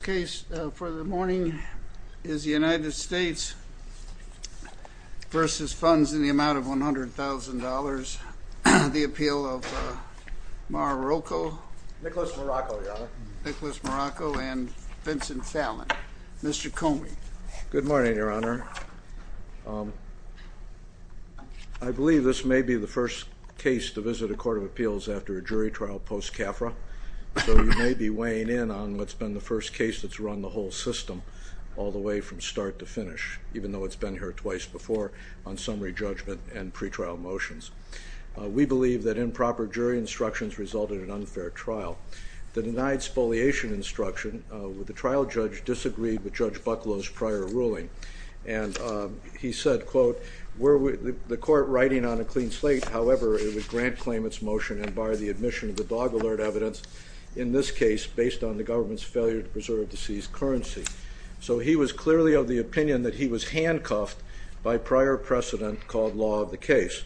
The case for the morning is the United States v. Funds in the Amount of $100,000, the appeal of Marrocco. Nicholas Marrocco, Your Honor. Nicholas Marrocco and Vincent Fallon. Mr. Comey. Good morning, Your Honor. I believe this may be the first case to visit a court of appeals after a jury trial post-CAFRA, so you may be weighing in on what's been the first case that's run the whole system all the way from start to finish, even though it's been here twice before, on summary judgment and pretrial motions. We believe that improper jury instructions resulted in unfair trial. The denied spoliation instruction, the trial judge disagreed with Judge Bucklow's prior ruling, and he said, quote, the court writing on a clean slate, however, it would grant claim its motion and bar the admission of the dog alert evidence, in this case, based on the government's failure to preserve the seized currency. So he was clearly of the opinion that he was handcuffed by prior precedent called law of the case.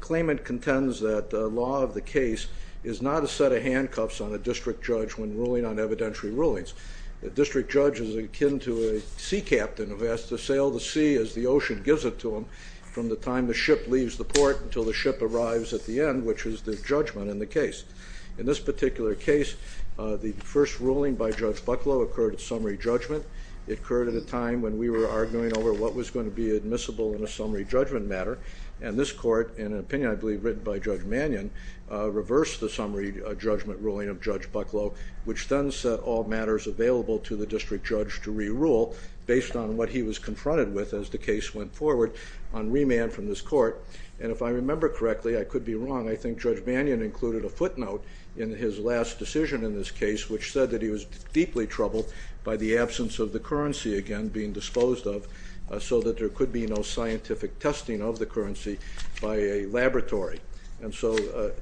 Claimant contends that law of the case is not a set of handcuffs on a district judge when ruling on evidentiary rulings. A district judge is akin to a sea captain who has to sail the sea as the ocean gives it to him from the time the ship leaves the port until the ship arrives at the end, which is the judgment in the case. In this particular case, the first ruling by Judge Bucklow occurred at summary judgment. It occurred at a time when we were arguing over what was going to be admissible in a summary judgment matter, and this court, in an opinion I believe written by Judge Mannion, reversed the summary judgment ruling of Judge Bucklow, which then set all matters available to the district judge to re-rule based on what he was confronted with as the case went forward on remand from this court. And if I remember correctly, I could be wrong, I think Judge Mannion included a footnote in his last decision in this case which said that he was deeply troubled by the absence of the currency again being disposed of so that there could be no scientific testing of the currency by a laboratory. And so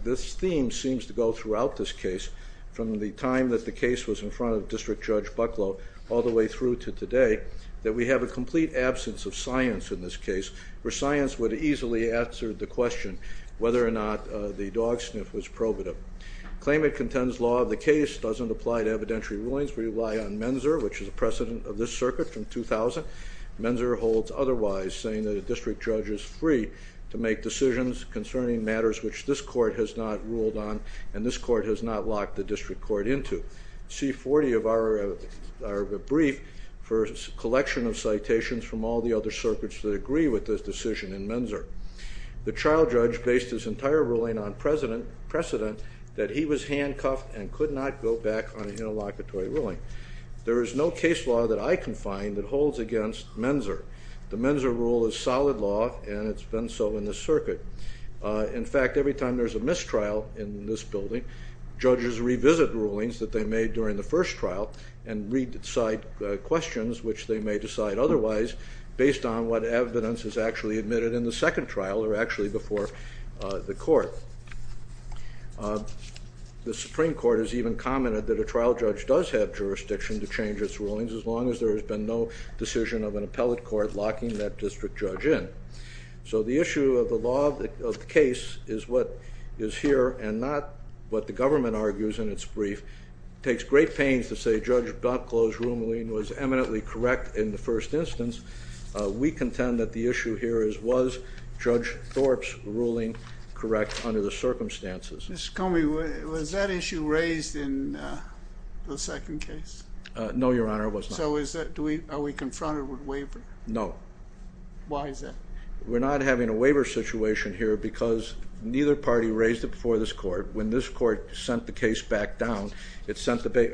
this theme seems to go throughout this case from the time that the case was in front of District Judge Bucklow all the way through to today, that we have a complete absence of science in this case, where science would have easily answered the question whether or not the dog sniff was probative. Claim it contends law of the case doesn't apply to evidentiary rulings. We rely on Menzer, which is a precedent of this circuit from 2000. Menzer holds otherwise, saying that a district judge is free to make decisions concerning matters which this court has not ruled on and this court has not locked the district court into. C40 of our brief for a collection of citations from all the other circuits that agree with this decision in Menzer. The trial judge based his entire ruling on precedent that he was handcuffed and could not go back on an interlocutory ruling. There is no case law that I can find that holds against Menzer. The Menzer rule is solid law and it's been so in this circuit. In fact, every time there's a mistrial in this building, judges revisit rulings that they made during the first trial and re-decide questions which they may decide otherwise based on what evidence is actually admitted in the second trial or actually before the court. The Supreme Court has even commented that a trial judge does have jurisdiction to change its rulings as long as there has been no decision of an appellate court locking that district judge in. So the issue of the case is what is here and not what the government argues in its brief. It takes great pains to say Judge Blocklo's ruling was eminently correct in the first instance. We contend that the issue here is was Judge Thorpe's ruling correct under the circumstances. Mr. Comey, was that issue raised in the second case? No, Your Honor, it was not. So are we confronted with waiver? No. Why is that? We're not having a waiver situation here because neither party raised it before this court. When this court sent the case back down, it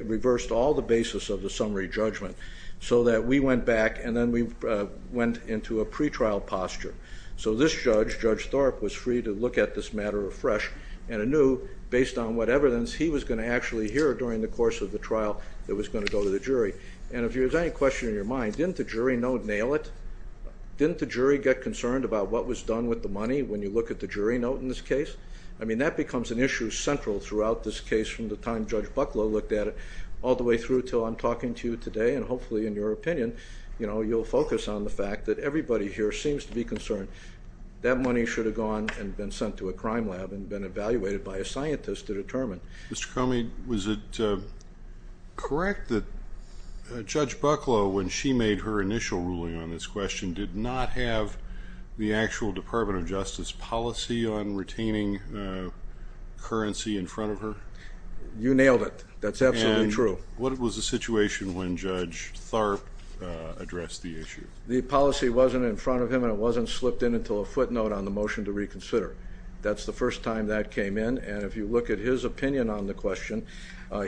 reversed all the basis of the summary judgment so that we went back and then we went into a pretrial posture. So this judge, Judge Thorpe, was free to look at this matter afresh and knew based on what evidence he was going to actually hear during the course of the trial that was going to go to the jury. And if there's any question in your mind, didn't the jury note nail it? Didn't the jury get concerned about what was done with the money when you look at the jury note in this case? I mean, that becomes an issue central throughout this case from the time Judge Bucklo looked at it all the way through until I'm talking to you today and hopefully in your opinion, you know, you'll focus on the fact that everybody here seems to be concerned. That money should have gone and been sent to a crime lab and been evaluated by a scientist to determine. Mr. Comey, was it correct that Judge Bucklo, when she made her initial ruling on this question, did not have the actual Department of Justice policy on retaining currency in front of her? You nailed it. That's absolutely true. And what was the situation when Judge Thorpe addressed the issue? The policy wasn't in front of him and it wasn't slipped in until a footnote on the motion to reconsider. That's the first time that came in. And if you look at his opinion on the question,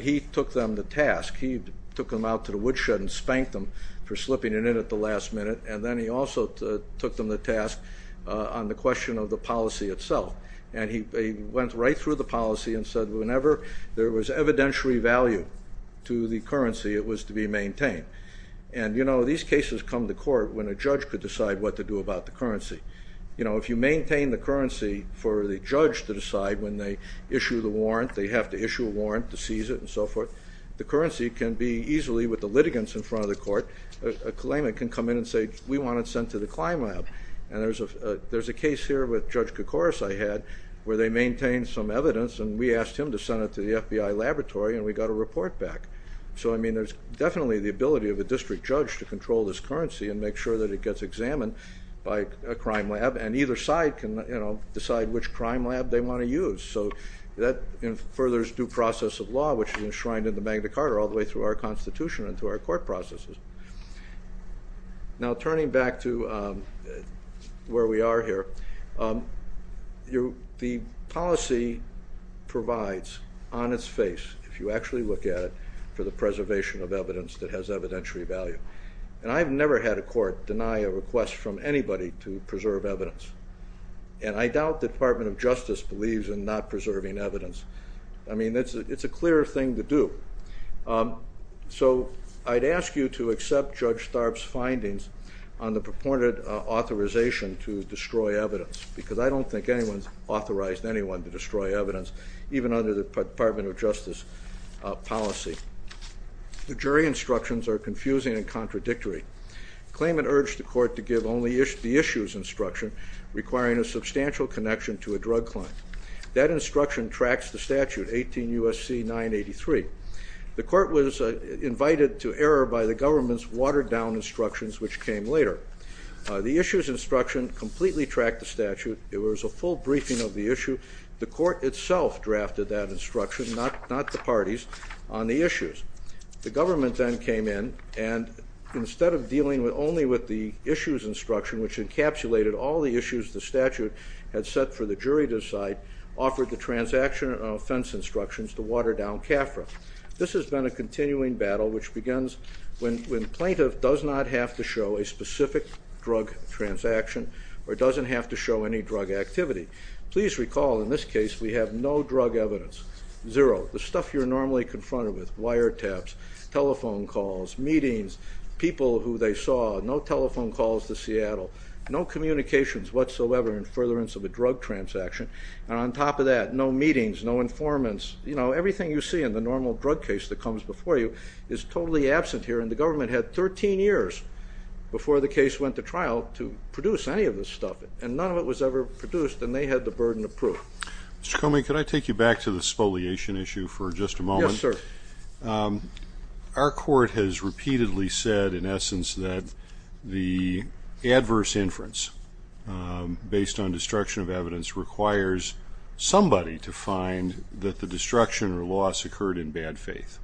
he took them to task. He took them out to the woodshed and spanked them for slipping it in at the last minute. And then he also took them to task on the question of the policy itself. And he went right through the policy and said whenever there was evidentiary value to the currency, it was to be maintained. And you know, these cases come to court when a judge could decide what to do about the currency. You know, if you maintain the currency for the judge to decide when they issue the warrant, they have to issue a warrant to seize it and so forth, the currency can be easily, with the litigants in front of the court, a claimant can come in and say, we want it sent to the CLIMAB. And there's a case here with Judge Kokoris I had where they maintained some evidence and we asked him to send it to the FBI laboratory and we got a report back. So, I mean, there's definitely the ability of a district judge to control this currency and make sure that it gets examined by a crime lab and either side can, you know, decide which crime lab they want to use. So that furthers due process of law which is enshrined in the Magna Carta all the way through our Constitution and through our court processes. Now turning back to where we are here, the policy provides on its face, if you actually look at it, for the preservation of evidence that has evidentiary value. And I've never had a court deny a request from anybody to preserve evidence. And I doubt the Department of Justice believes in not preserving evidence. I mean, it's a clear thing to do. So I'd ask you to accept Judge Starb's findings on the purported authorization to destroy evidence, because I don't think anyone's authorized anyone to destroy evidence, even under the Department of Justice policy. The jury instructions are confusing and contradictory. The claimant urged the court to give only the issues instruction, requiring a substantial connection to a drug client. That instruction tracks the statute, 18 U.S.C. 983. The court was invited to error by the government's watered down instructions, which came later. The issues instruction completely tracked the statute. It was a full briefing of the issue. The court itself drafted that instruction, not the parties, on the issues. The government then came in, and instead of dealing only with the issues instruction, which encapsulated all the issues the statute had set for the jury to decide, offered the transaction and offense instructions to water down CAFRA. This has been a continuing battle which begins when plaintiff does not have to show a specific drug transaction or doesn't have to show any drug activity. Please recall, in this case, we have no drug evidence. Zero. The stuff you're normally confronted with, wiretaps, telephone calls, meetings, people who they saw, no telephone calls to Seattle, no communications whatsoever in furtherance of a drug transaction, and on top of that, no meetings, no informants. You know, everything you see in the normal drug case that comes before you is totally absent here, and the government had 13 years before the case went to trial to produce any of this stuff, and none of it was ever produced, and they had the burden of proof. Mr. Comey, could I take you back to the spoliation issue for just a moment? Yes, sir. Our court has repeatedly said, in essence, that the adverse inference based on destruction of evidence requires somebody to find that the destruction or loss occurred in bad faith.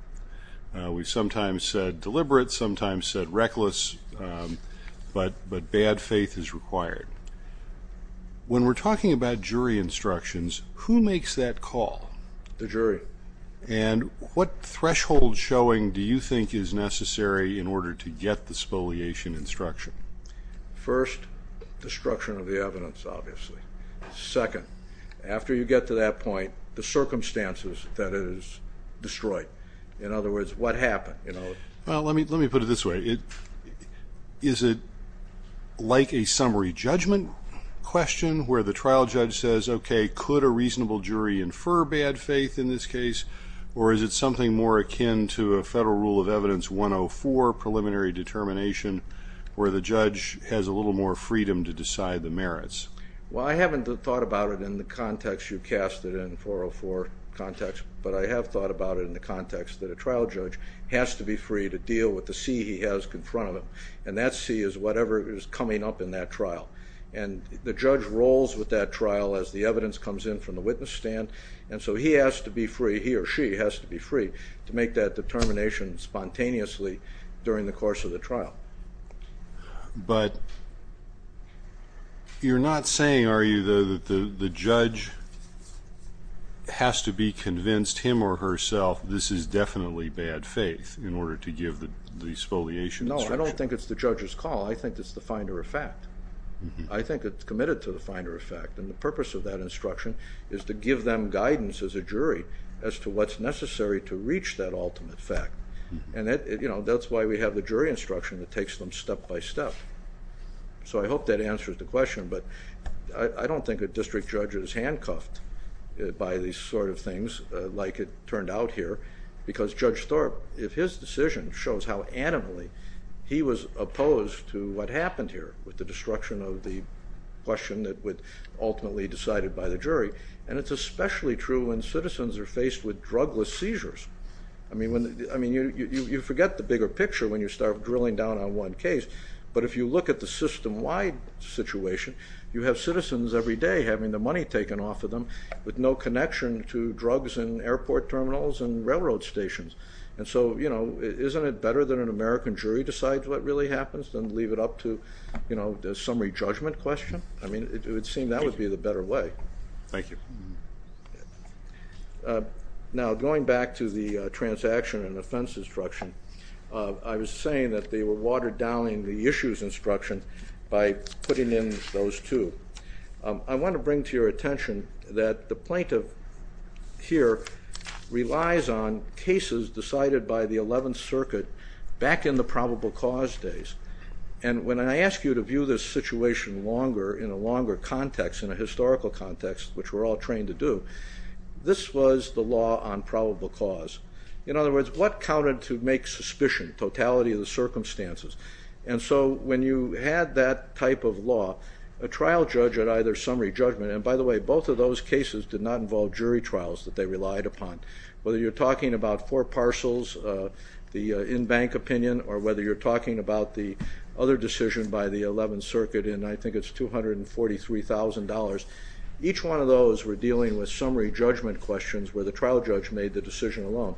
We sometimes said deliberate, sometimes said reckless, but bad faith is required. When we're talking about jury instructions, who makes that call? The jury. And what threshold showing do you think is necessary in order to get the spoliation instruction? First, destruction of the evidence, obviously. Second, after you get to that point, the circumstances that it is destroyed. In other words, what happened, you know? Well, let me put it this way. Is it like a summary judgment question where the trial judge says, okay, could a reasonable jury infer bad faith in this case, or is it something more akin to a Federal Rule of Evidence 104 preliminary determination where the judge has a little more freedom to decide the merits? Well, I haven't thought about it in the context you cast it in, 404 context, but I have thought about it in the context that a trial judge has to be free to deal with the sea he has in front of him, and that sea is whatever is coming up in that trial. And the judge rolls with that trial as the evidence comes in from the witness stand, and so he has to be free, he or she has to be free to make that determination spontaneously during the course of the trial. But you're not saying, are you, that the judge has to be convinced, him or herself, this is definitely bad faith in order to give the spoliation instruction? No, I don't think it's the judge's call. I think it's the finder of fact. I think it's committed to the finder of fact, and the purpose of that instruction is to give them guidance as a jury as to what's necessary to reach that ultimate fact. And that's why we have the jury instruction that takes them step by step. So I hope that answers the question, but I don't think a district judge is handcuffed by these sort of things like it turned out here because Judge Thorpe, if his decision shows how adamantly he was opposed to what happened here with the destruction of the question that would ultimately be decided by the jury, and it's especially true when citizens are faced with drugless seizures. I mean, you forget the bigger picture when you start drilling down on one case, but if you look at the system-wide situation, you have citizens every day having the money taken off of them with no connection to drugs in airport terminals and railroad stations. And so, you know, isn't it better that an American jury decides what really happens than leave it up to, you know, the summary judgment question? I mean, it would seem that would be the better way. Thank you. Now, going back to the transaction and offense instruction, I was saying that they were watered down in the issues instruction by putting in those two. I want to bring to your attention that the plaintiff here relies on cases decided by the 11th Circuit back in the probable cause days. And when I ask you to view this situation longer in a longer clinical context, which we're all trained to do, this was the law on probable cause. In other words, what counted to make suspicion? Totality of the circumstances. And so when you had that type of law, a trial judge at either summary judgment, and by the way, both of those cases did not involve jury trials that they relied upon. Whether you're talking about four parcels, the in-bank opinion, or whether you're talking about the other decision by the 11th Circuit, and I think it's $243,000, each one of those were dealing with summary judgment questions where the trial judge made the decision alone.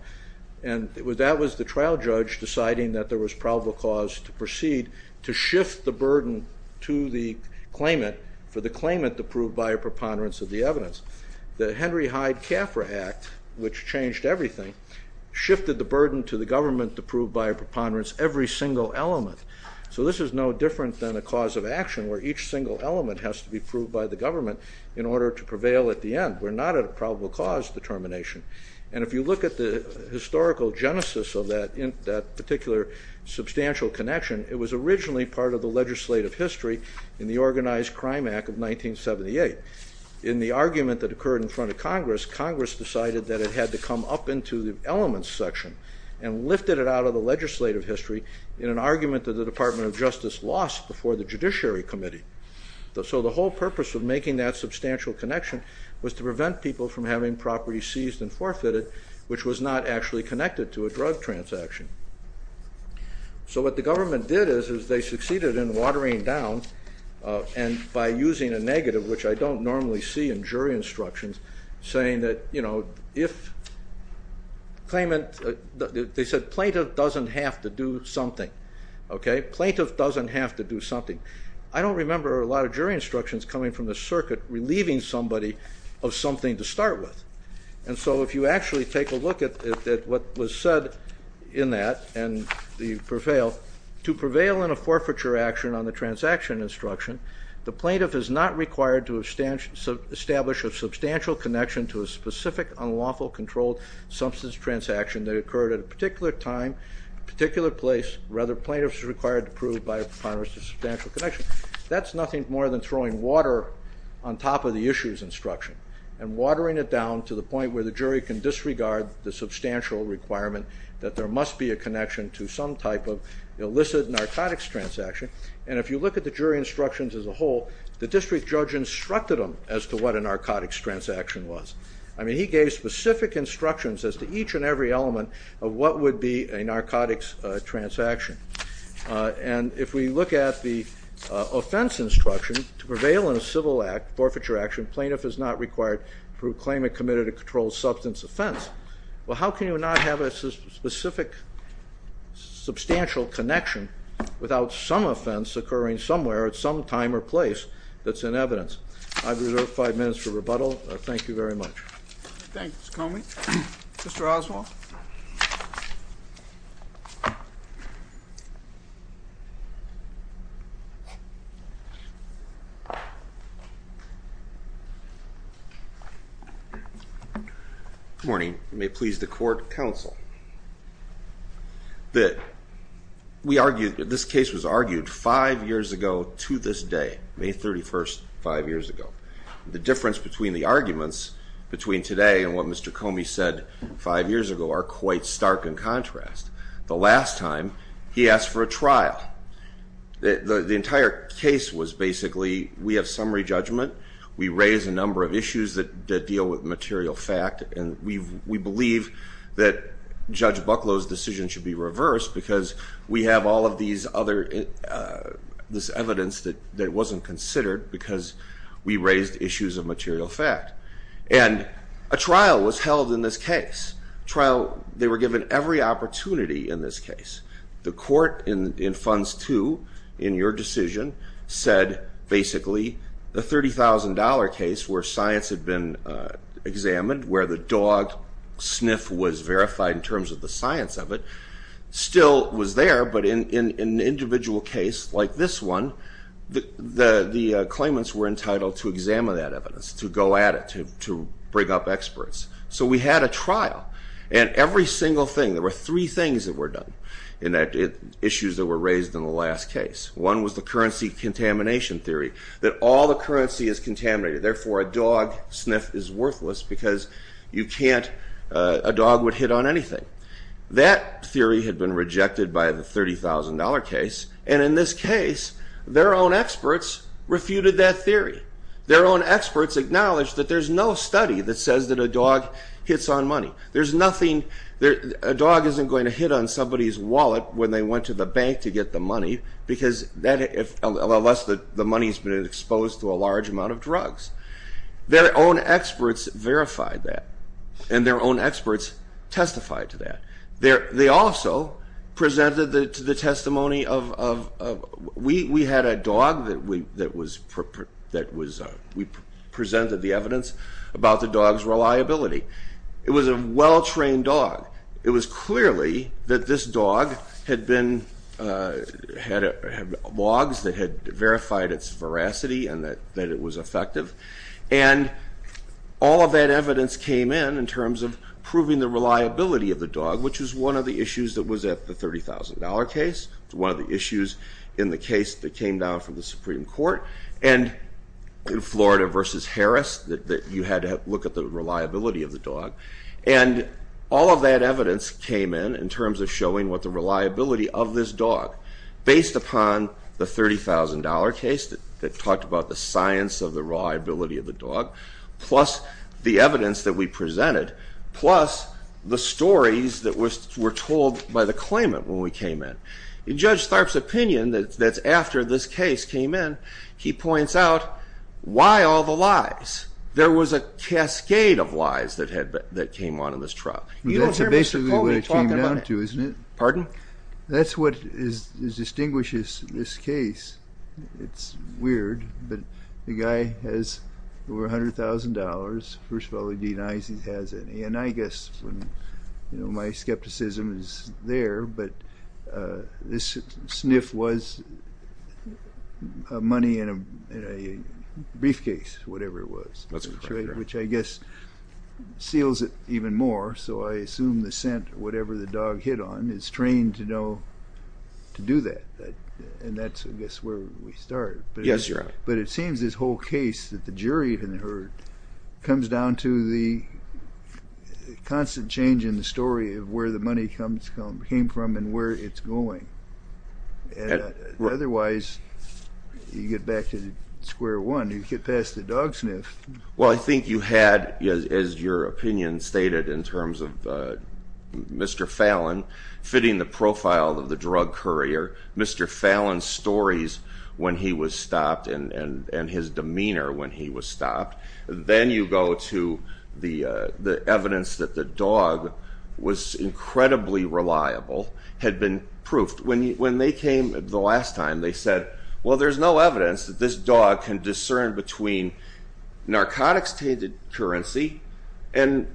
And that was the trial judge deciding that there was probable cause to proceed to shift the burden to the claimant for the claimant to prove by a preponderance of the evidence. The Henry Hyde-Cafra Act, which changed everything, shifted the burden to the government to prove by a preponderance every single element. So this is no different than a cause of action where each single element has to be proved by the government in order to prevail at the end. We're not at a probable cause determination. And if you look at the historical genesis of that particular substantial connection, it was originally part of the legislative history in the Organized Crime Act of 1978. In the argument that occurred in front of Congress, Congress decided that it had to come up into the elements section and lifted it out of the legislative history in an argument that the Department of Justice lost before the Judiciary Committee. So the whole purpose of making that substantial connection was to prevent people from having property seized and forfeited, which was not actually connected to a drug transaction. So what the government did is they succeeded in watering down by using a negative, which I don't normally see in jury instructions, saying that, you know, if claimant, they said plaintiff doesn't have to do something. Okay? Plaintiff doesn't have to do something. I don't remember a lot of jury instructions coming from the circuit relieving somebody of something to start with. And so if you actually take a look at what was said in that and the prevail, to prevail in a forfeiture action on the transaction instruction, the plaintiff is not required to establish a substantial connection to a specific unlawful controlled substance transaction that occurred at a particular time, particular place, rather plaintiff is required to prove by Congress a substantial connection. That's nothing more than throwing water on top of the issues instruction and watering it down to the point where the jury can disregard the substantial requirement that there must be a connection to some type of illicit narcotics transaction. And if you look at the jury instructions as a whole, the district judge instructed them as to what a narcotics transaction was. I mean, he gave specific instructions as to each and every element of what would be a narcotics transaction. And if we look at the offense instruction to prevail in a civil act, forfeiture action, plaintiff is not required to prove claimant committed a controlled substance offense. Well, how can you not have a specific substantial connection without some offense occurring somewhere at some time or place that's in evidence? I reserve five minutes for rebuttal. Thank you very much. I'm going to start with counsel. This case was argued five years ago to this day, May 31st, five years ago. The difference between the arguments between today and what Mr. Comey said five years ago are quite stark in contrast. The last time, he asked for a trial. The entire case was basically we have summary judgment, we raise a number of issues that deal with the fact that Judge Bucklow's decision should be reversed because we have all of this evidence that wasn't considered because we raised issues of material fact. And a trial was held in this case. They were given every opportunity in this case. The court in Funds 2, in your decision, said basically the $30,000 case where science had been examined, where the dog sniff was verified in terms of the science of it, still was there, but in an individual case like this one, the claimants were entitled to examine that evidence, to go at it, to bring up experts. So we had a trial. And every single thing, there were three things that were done in issues that were raised in the last case. One was the currency contamination theory, that all the currency is contaminated, therefore a dog sniff is worthless because you can't, a dog would hit on anything. That theory had been rejected by the $30,000 case, and in this case, their own experts refuted that theory. Their own experts acknowledged that there's no study that says that a dog hits on money. There's nothing, a dog isn't going to hit on somebody's wallet when they went to the bank to get the money, unless the money's been exposed to a large amount of drugs. Their own experts verified that, and their own experts testified to that. They also presented the testimony of, we had a dog that was, we presented the evidence about the dog's reliability. It was a well-trained dog. It was clearly that this dog had been, had logs that had verified that the dog sniffed verified its veracity and that it was effective, and all of that evidence came in in terms of proving the reliability of the dog, which is one of the issues that was at the $30,000 case. It's one of the issues in the case that came down from the Supreme Court, and in Florida versus Harris, that you had to look at the reliability of the dog, and all of that evidence came in in terms of showing what the reliability of this dog, based upon the $30,000 case that talked about the science of the reliability of the dog, plus the evidence that we presented, plus the stories that were told by the claimant when we came in. In Judge Tharp's opinion, that's after this case came in, he points out, why all the lies? There was a cascade of lies that came on in this trial. You don't hear Mr. Colby talking about it. That's what distinguishes this case. It's weird, but the guy has over $100,000. First of all, he denies he has any, and I guess, you know, my skepticism is there, but this sniff was money in a briefcase, whatever it was, which I guess seals it even more, so I assume the scent, whatever the dog hit on, is trained to know to do that, and that's, I guess, where we start. But it seems this whole case that the jury heard comes down to the constant change in the story of where the money comes from, came from, and where it's going. Otherwise, you get back to square one, you get past the dog sniff. Well, I think you had, as your opinion stated, in terms of Mr. Fallon fitting the profile of the drug courier, Mr. Fallon's stories when he was stopped, and his demeanor when he was reliably reliable, had been proofed. When they came the last time, they said, well, there's no evidence that this dog can discern between narcotics-tainted currency and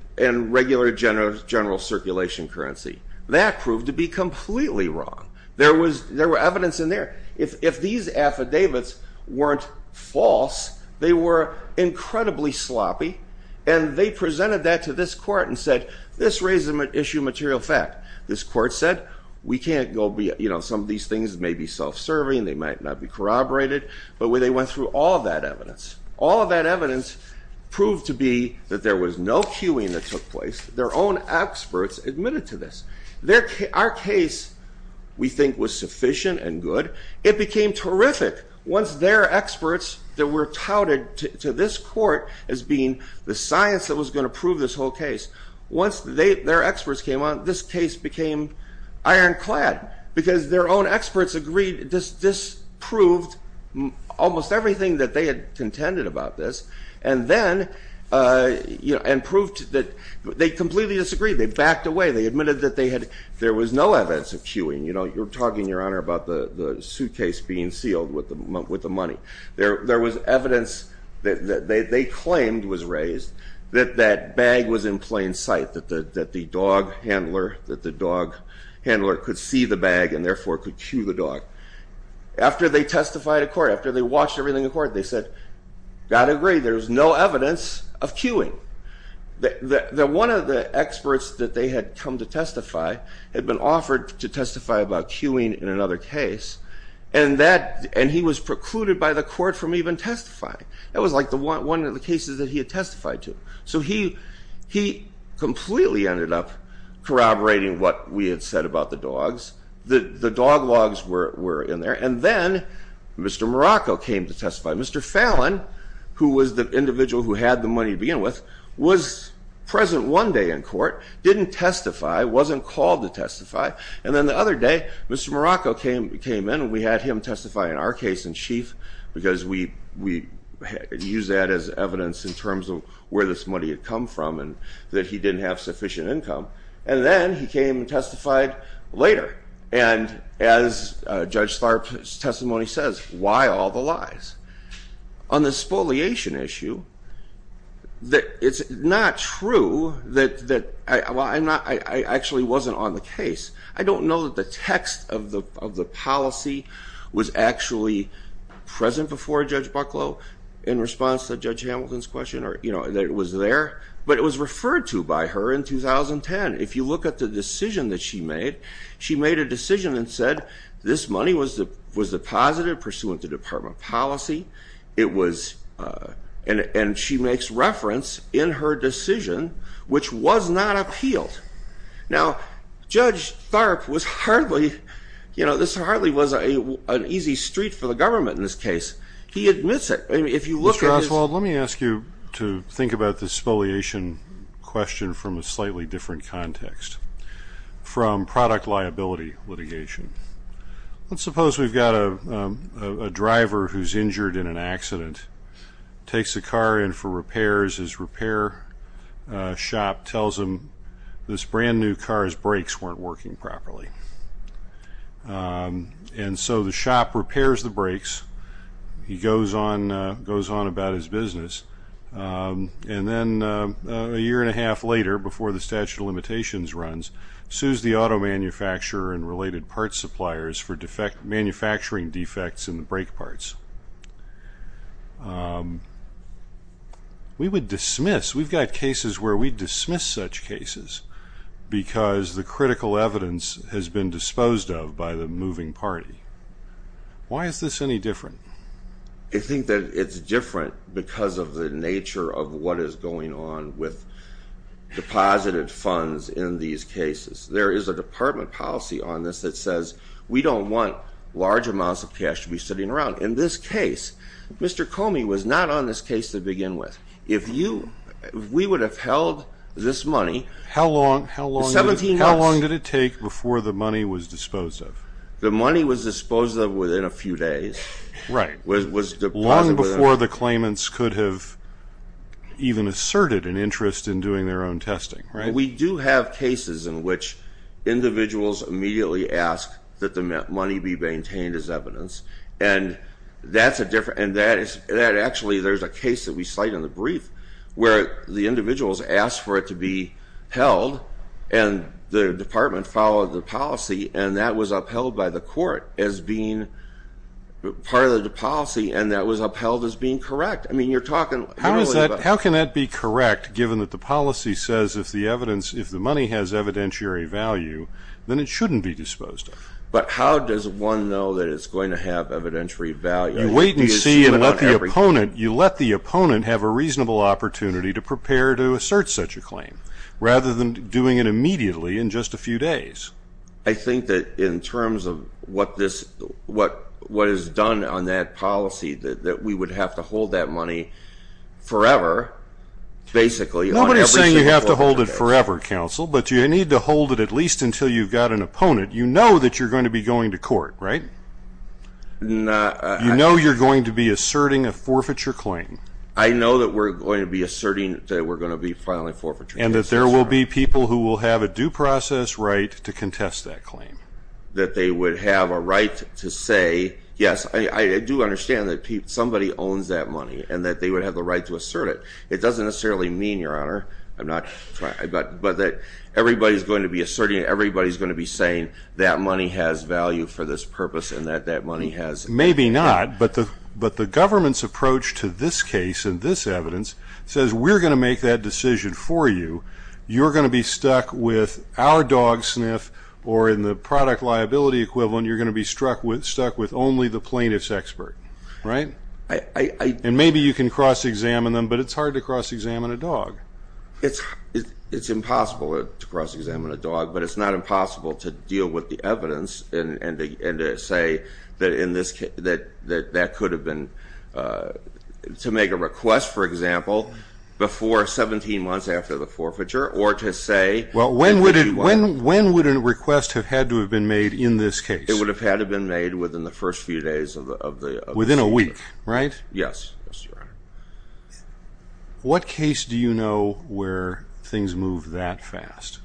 regular general circulation currency. That proved to be completely wrong. There was evidence in there. If these affidavits weren't false, they were incredibly sloppy, and they presented that to this court and said, this raises an issue of material fact. This court said, we can't go be, you know, some of these things may be self-serving, they might not be corroborated, but when they went through all that evidence, all of that evidence proved to be that there was no cueing that took place. Their own experts admitted to this. Our case, we think, was sufficient and good. It became terrific once their experts that were touted to this court as being the science that was going to prove this whole case. Once their experts came on, this case became ironclad, because their own experts agreed this proved almost everything that they had contended about this, and then, you know, and proved that they completely disagreed. They backed away. They admitted that they had, there was no evidence of cueing. You know, you're talking, Your Honor, about the suitcase being sealed with the money. There was evidence that they claimed was raised, that that bag was in plain sight, that the dog handler, that the dog handler could see the bag and therefore could cue the dog. After they testified in court, after they watched everything in court, they said, got to agree, there's no evidence of cueing. That one of the experts that they had come to testify, had been offered to testify about cueing in another case, and that, and he was precluded by the court from even testifying. That was like the one of the cases that he had testified to. So he completely ended up corroborating what we had said about the dogs. The dog logs were in there, and then Mr. Morocco came to testify. Mr. Fallon, who was the individual who had the money to begin with, was present one day in court, didn't testify, wasn't called to testify, and then the other day, Mr. Morocco came in, and we had him testify in our case in chief, because we used that as evidence in terms of where this money had come from, and that he didn't have sufficient income. And then he came and testified later, and as Judge Starr's testimony says, why all the lies? On the spoliation issue, it's not true that, well, I'm not, I don't know if the policy was actually present before Judge Bucklow in response to Judge Hamilton's question, or you know, that it was there, but it was referred to by her in 2010. If you look at the decision that she made, she made a decision and said, this money was deposited pursuant to department policy. It was, and she makes reference in her decision, which was not appealed. Now, Judge Tharp was hardly, you know, this hardly was an easy street for the government in this case. He admits it. I mean, if you look at his- Mr. Oswald, let me ask you to think about the spoliation question from a slightly different context, from product liability litigation. Let's suppose we've got a driver who's injured in an accident, takes the car in for repairs, his repair shop tells him this brand new car's brakes weren't working properly. And so the shop repairs the brakes, he goes on about his business, and then a year and a half later, before the statute of limitations runs, sues the We've got cases where we dismiss such cases because the critical evidence has been disposed of by the moving party. Why is this any different? I think that it's different because of the nature of what is going on with deposited funds in these cases. There is a department policy on this that says we don't want large amounts of cash to be sitting around. In this case, Mr. Comey was not on this case to We would have held this money- How long did it take before the money was disposed of? The money was disposed of within a few days. Long before the claimants could have even asserted an interest in doing their own testing, right? We do have cases in which individuals immediately ask that the money be maintained as evidence. And actually, there's a case that we cite in the brief where the individuals ask for it to be held, and the department followed the policy, and that was upheld by the court as being part of the policy, and that was upheld as being correct. I mean, you're talking- How can that be correct, given that the policy says if the money has evidentiary value, then it shouldn't be disposed of? But how does one know that it's going to have evidentiary value? You wait and see and let the opponent- You let the opponent have a reasonable opportunity to prepare to assert such a claim, rather than doing it immediately in just a few days. I think that in terms of what is done on that policy, that we would have to hold that money forever, basically. Nobody's saying you have to hold it forever, counsel, but you need to hold it at least until you've got an opponent. You know that you're going to be going to court, right? No- You know you're going to be asserting a forfeiture claim. I know that we're going to be asserting that we're going to be filing a forfeiture claim. And that there will be people who will have a due process right to contest that claim. That they would have a right to say, yes, I do understand that somebody owns that money, and that they would have the right to assert it. It doesn't necessarily mean, your honor, that everybody's going to be asserting, everybody's going to be saying that money has value for this purpose and that that money has- Maybe not, but the government's approach to this case and this evidence says we're going to make that decision for you. You're going to be stuck with our dog sniff, or in the product liability equivalent, you're going to be stuck with only the plaintiff's expert. Right? And maybe you can cross-examine them, but it's hard to cross-examine a dog. It's impossible to cross-examine a dog, but it's not impossible to deal with the evidence and to say that that could have been- To make a request, for example, before 17 months after the forfeiture, or to say- Well, when would a request have had to have been made in this case? It would have had to have been made within the first few days of the- Within a week, right? Yes, yes, your honor. What case do you know where things move that fast?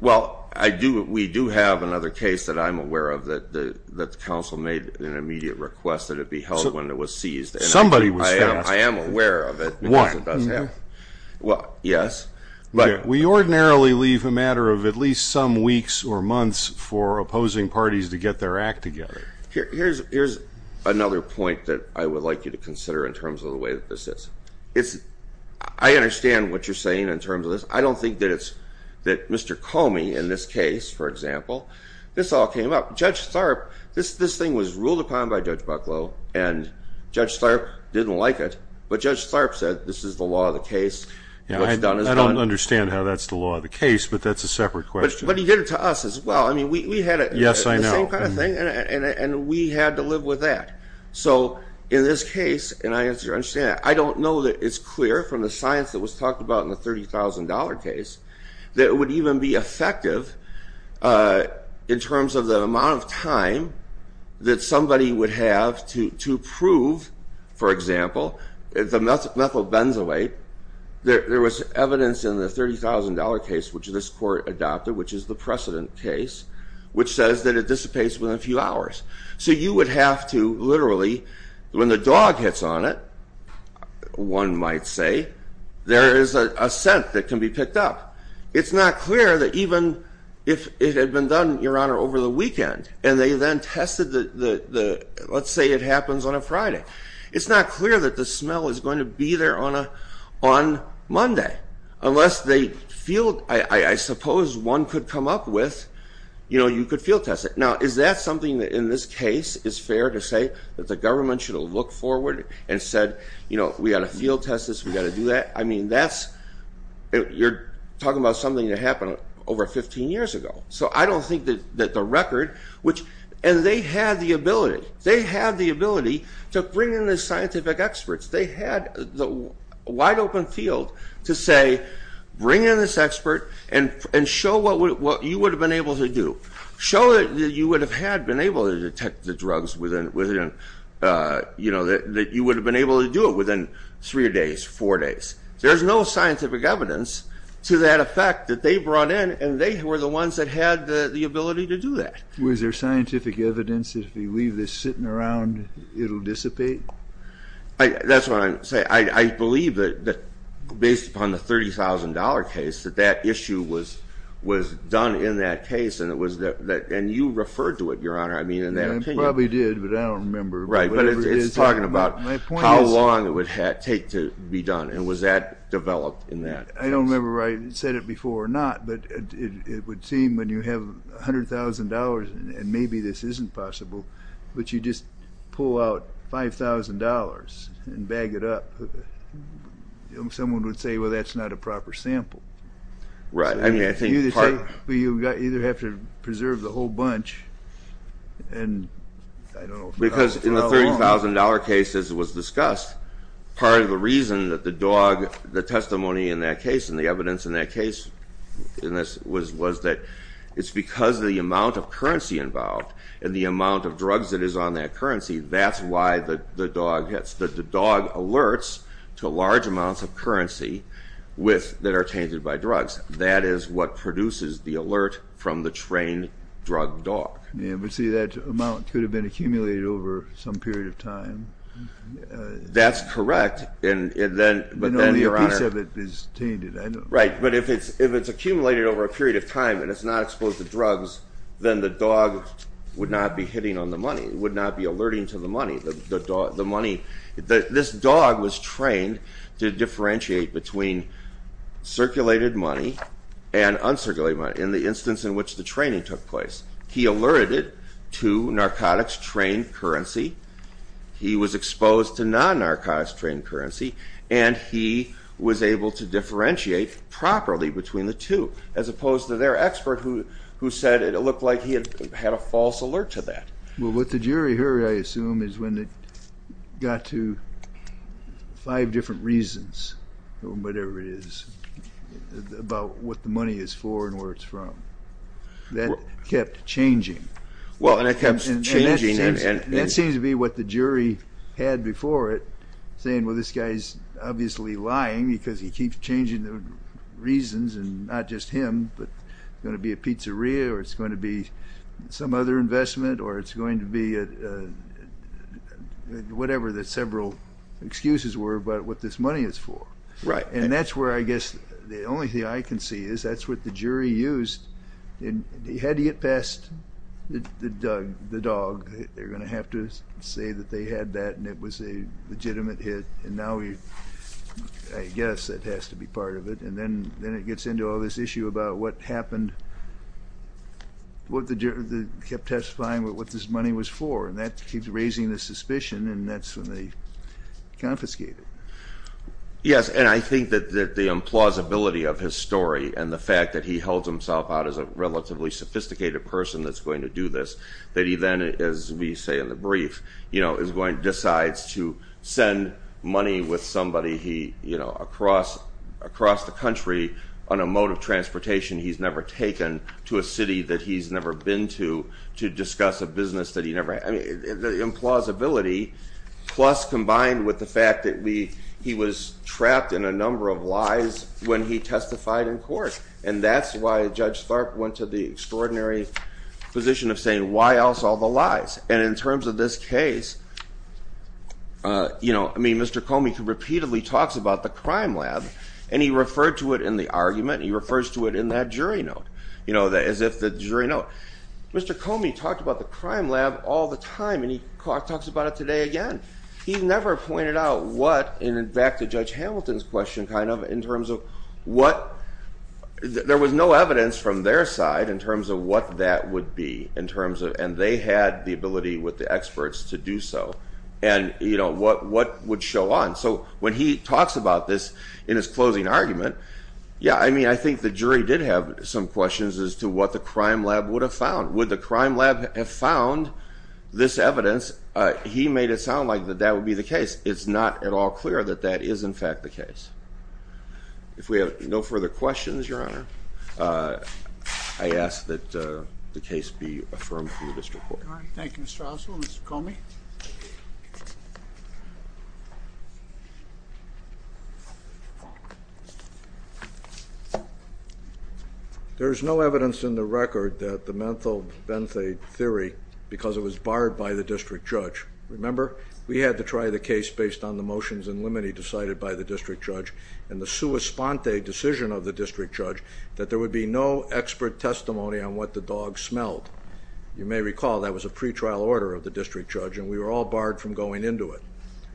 Well, we do have another case that I'm aware of that the council made an immediate request that it be held when it was seized. Somebody was fast. I am aware of it because it does happen. Why? Well, yes, but- We ordinarily leave a matter of at least some weeks or months for opposing parties to get their act together. Here's another point that I would like you to consider in terms of the way that this is. I understand what you're saying in terms of this. I don't think that it's that Mr. Comey in this case, for example, this all came up. Judge Tharp, this thing was ruled upon by Judge Bucklow, and Judge Tharp didn't like it, but Judge Tharp said this is the law of the case. I don't understand how that's the law of the case, but that's a separate question. But he did it to us as well. We had the same kind of thing, and we had to live with that. So in this case, and I understand that, I don't know that it's clear from the science that was talked about in the $30,000 case that it would even be effective in terms of the amount of time that somebody would have to prove, for example, the methyl benzoate. There was evidence in the $30,000 case, which this court adopted, which is the precedent case, which says that it dissipates within a few hours. So you would have to literally, when the dog hits on it, one might say, there is a scent that can be picked up. It's not clear that even if it had been done, Your Honor, over the weekend, and they then tested the, let's say it happens on a Friday, it's not clear that the smell is going to be there on Monday. Unless they field, I suppose one could come up with, you know, you could field test it. Now, is that something that in this case is fair to say that the government should have looked forward and said, you know, we got to field test this, we got to do that? I mean, that's, you're talking about something that happened over 15 years ago. So I don't think that the record, which, and they had the ability, they had the ability to bring in the scientific experts. They had the wide open field to say, bring in this expert and show what you would have been able to do. Show that you would have had been able to detect the drugs within, you know, that you would have been able to do it within three days, four days. There's no scientific evidence to that effect that they brought in, and they were the ones that had the ability to do that. Was there scientific evidence that if you leave this sitting around, it will dissipate? That's what I'm saying. I believe that based upon the $30,000 case, that that issue was done in that case, and you referred to it, Your Honor, I mean, in that opinion. I probably did, but I don't remember. Right, but it's talking about how long it would take to be done. And was that developed in that case? I don't remember whether I said it before or not, but it would seem when you have $100,000 and maybe this isn't possible, but you just pull out $5,000 and bag it up, someone would say, well, that's not a proper sample. Right. You either have to preserve the whole bunch, and I don't know for how long. Because in the $30,000 case, as it was discussed, part of the reason that the dog, the testimony in that case and the evidence in that case was that it's because of the amount of currency involved and the amount of drugs that is on that currency, that's why the dog alerts to large amounts of currency that are tainted by drugs. That is what produces the alert from the trained drug dog. Yeah, but see, that amount could have been accumulated over some period of time. That's correct. And only a piece of it is tainted. Right, but if it's accumulated over a period of time and it's not exposed to drugs, then the dog would not be hitting on the money, would not be alerting to the money. This dog was trained to differentiate between circulated money and uncirculated money in the instance in which the training took place. He alerted to narcotics-trained currency, he was exposed to non-narcotics-trained currency, and he was able to differentiate properly between the two, as opposed to their expert who said it looked like he had a false alert to that. Well, what the jury heard, I assume, is when it got to five different reasons, whatever it is, about what the money is for and where it's from. That kept changing. Well, and it kept changing. And that seems to be what the jury had before it, saying, well, this guy's obviously lying because he keeps changing the reasons, and not just him, but it's going to be a pizzeria or it's going to be some other investment or it's going to be whatever the several excuses were about what this money is for. Right. And that's where I guess the only thing I can see is that's what the jury used. He had to get past the dog. They're going to have to say that they had that and it was a legitimate hit, and now I guess that has to be part of it. And then it gets into all this issue about what happened, what the jury kept testifying what this money was for, and that keeps raising the suspicion, and that's when they confiscate it. Yes, and I think that the implausibility of his story and the fact that he held himself out as a relatively sophisticated person that's going to do this, that he then, as we say in the brief, decides to send money with somebody across the country on a mode of transportation he's never taken to a city that he's never been to to discuss a business that he never had. The implausibility plus combined with the fact that he was trapped in a number of lies when he testified in court, and that's why Judge Tharp went to the extraordinary position of saying, why else all the lies? And in terms of this case, I mean, Mr. Comey repeatedly talks about the crime lab, and he referred to it in the argument, and he refers to it in that jury note, as if the jury note. Mr. Comey talked about the crime lab all the time, and he talks about it today again. He never pointed out what, and back to Judge Hamilton's question kind of, in terms of what, there was no evidence from their side in terms of what that would be, and they had the ability with the experts to do so, and what would show on. So when he talks about this in his closing argument, yeah, I mean, I think the jury did have some questions as to what the crime lab would have found. Would the crime lab have found this evidence? He made it sound like that that would be the case. It's not at all clear that that is, in fact, the case. If we have no further questions, Your Honor, I ask that the case be affirmed for the district court. Thank you, Mr. Oswald. Mr. Comey? There is no evidence in the record that the menthol benthate theory, because it was barred by the district judge. Remember, we had to try the case based on the motions and limine decided by the district judge and the sua sponte decision of the district judge, that there would be no expert testimony on what the dog smelled. You may recall that was a pretrial order of the district judge, and we were all barred from going into it.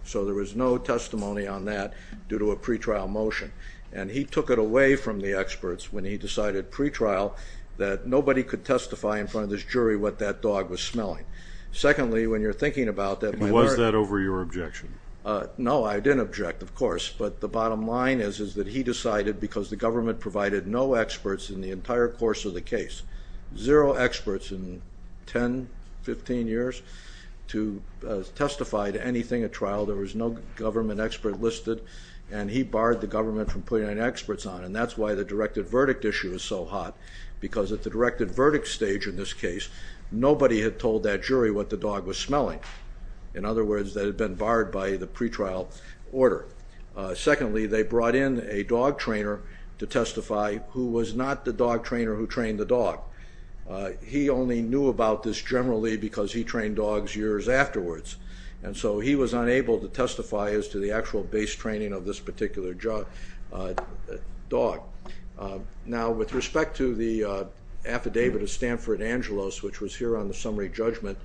So there was no testimony on that due to a pretrial motion, and he took it away from the experts when he decided pretrial that nobody could testify in front of this jury what that dog was smelling. Secondly, when you're thinking about that, by the way— Was that over your objection? No, I didn't object, of course, but the bottom line is that he decided, because the government provided no experts in the entire course of the case, zero experts in 10, 15 years, to testify to anything at trial. There was no government expert listed, and he barred the government from putting any experts on, and that's why the directed verdict issue is so hot, because at the directed verdict stage in this case, nobody had told that jury what the dog was smelling. In other words, that had been barred by the pretrial order. Secondly, they brought in a dog trainer to testify, who was not the dog trainer who trained the dog. He only knew about this generally because he trained dogs years afterwards, and so he was unable to testify as to the actual base training of this particular dog. Now, with respect to the affidavit of Stanford Angelos, which was here on the summary judgment,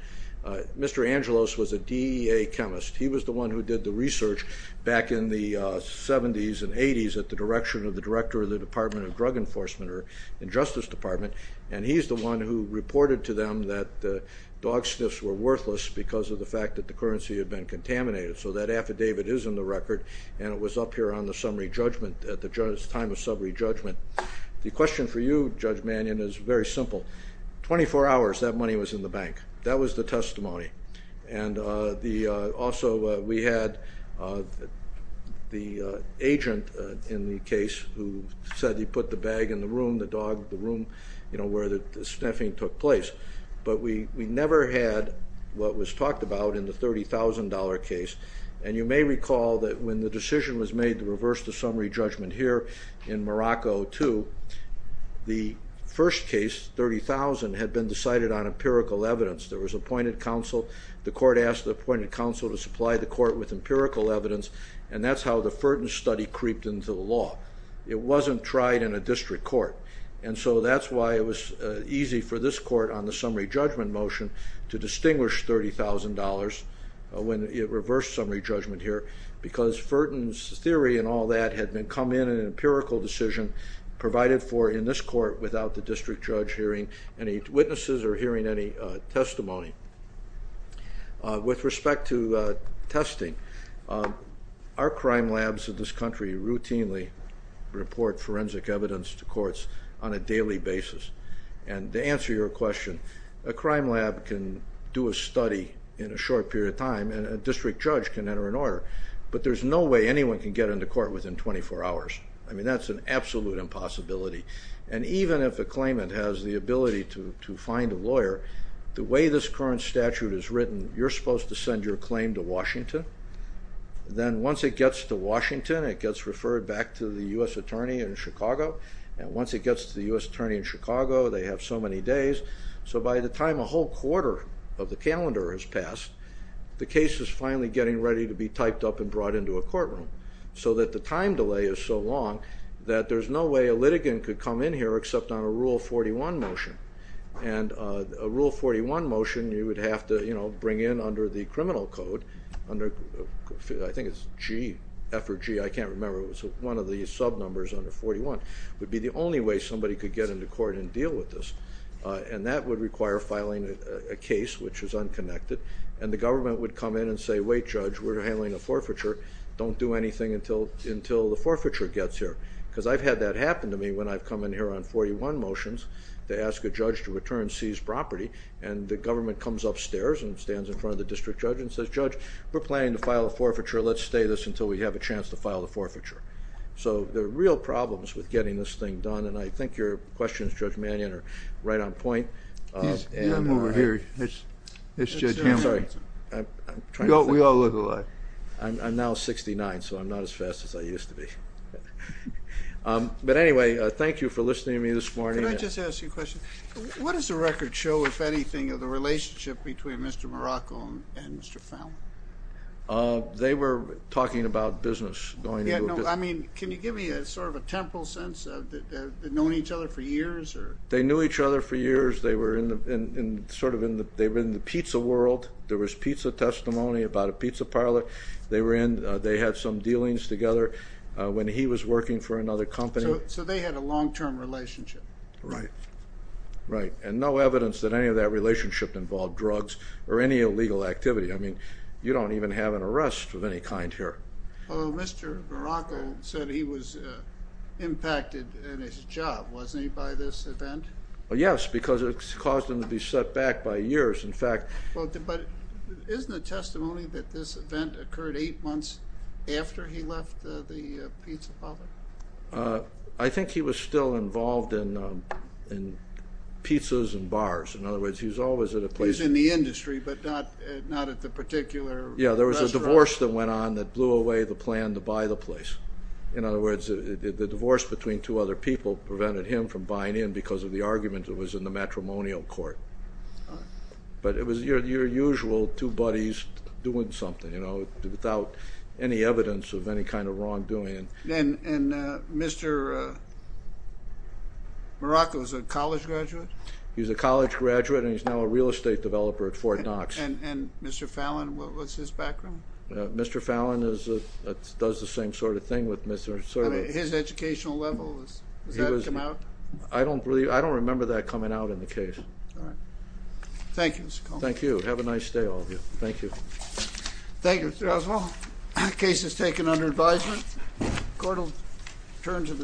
Mr. Angelos was a DEA chemist. He was the one who did the research back in the 70s and 80s at the direction of the director of the Department of Drug Enforcement or Justice Department, and he's the one who reported to them that dog sniffs were worthless because of the fact that the currency had been contaminated. So that affidavit is in the record, and it was up here on the summary judgment, at the time of summary judgment. The question for you, Judge Mannion, is very simple. 24 hours, that money was in the bank. That was the testimony. And also we had the agent in the case who said he put the bag in the room, the dog in the room where the sniffing took place. But we never had what was talked about in the $30,000 case, and you may recall that when the decision was made to reverse the summary judgment here in Morocco, too, the first case, $30,000, had been decided on empirical evidence. There was appointed counsel. The court asked the appointed counsel to supply the court with empirical evidence, and that's how the Ferton study creeped into the law. It wasn't tried in a district court, and so that's why it was easy for this court on the summary judgment motion to distinguish $30,000 when it reversed summary judgment here because Ferton's theory and all that had come in an empirical decision provided for in this court without the district judge hearing any witnesses or hearing any testimony. With respect to testing, our crime labs in this country routinely report forensic evidence to courts on a daily basis, and to answer your question, a crime lab can do a study in a short period of time and a district judge can enter an order, but there's no way anyone can get into court within 24 hours. I mean, that's an absolute impossibility. And even if a claimant has the ability to find a lawyer, the way this current statute is written, you're supposed to send your claim to Washington. Then once it gets to Washington, it gets referred back to the U.S. attorney in Chicago, and once it gets to the U.S. attorney in Chicago, they have so many days. So by the time a whole quarter of the calendar has passed, the case is finally getting ready to be typed up and brought into a courtroom so that the time delay is so long that there's no way a litigant could come in here except on a Rule 41 motion. And a Rule 41 motion you would have to bring in under the criminal code, I think it's G, F or G, I can't remember, it was one of the subnumbers under 41, would be the only way somebody could get into court and deal with this. And that would require filing a case, which is unconnected, and the government would come in and say, wait, Judge, we're handling a forfeiture, don't do anything until the forfeiture gets here. Because I've had that happen to me when I've come in here on 41 motions to ask a judge to return seized property, and the government comes upstairs and stands in front of the district judge and says, Judge, we're planning to file a forfeiture, let's stay this until we have a chance to file the forfeiture. So there are real problems with getting this thing done, and I think your questions, Judge Mannion, are right on point. I'm over here. Sorry. We all look alike. I'm now 69, so I'm not as fast as I used to be. But anyway, thank you for listening to me this morning. Can I just ask you a question? What does the record show, if anything, of the relationship between Mr. Morocco and Mr. Fowle? They were talking about business, going into a business. I mean, can you give me sort of a temporal sense? Have they known each other for years? They knew each other for years. They were in the pizza world. There was pizza testimony about a pizza parlor. They had some dealings together when he was working for another company. So they had a long-term relationship. Right, and no evidence that any of that relationship involved drugs or any illegal activity. I mean, you don't even have an arrest of any kind here. Although Mr. Morocco said he was impacted in his job, wasn't he, by this event? Yes, because it caused him to be set back by years. But isn't the testimony that this event occurred eight months after he left the pizza parlor? I think he was still involved in pizzas and bars. In other words, he was always at a place. He was in the industry, but not at the particular restaurant. Yeah, there was a divorce that went on that blew away the plan to buy the place. In other words, the divorce between two other people prevented him from buying in because of the argument that was in the matrimonial court. But it was your usual two buddies doing something, you know, without any evidence of any kind of wrongdoing. And Mr. Morocco was a college graduate? He was a college graduate, and he's now a real estate developer at Fort Knox. And Mr. Fallon, what's his background? Mr. Fallon does the same sort of thing with Mr. Sorbo. His educational level, does that come out? I don't remember that coming out in the case. All right. Thank you, Mr. Coleman. Thank you. Have a nice day, all of you. Thank you. Thank you, Mr. Oswald. Case is taken under advisement. Court will turn to the...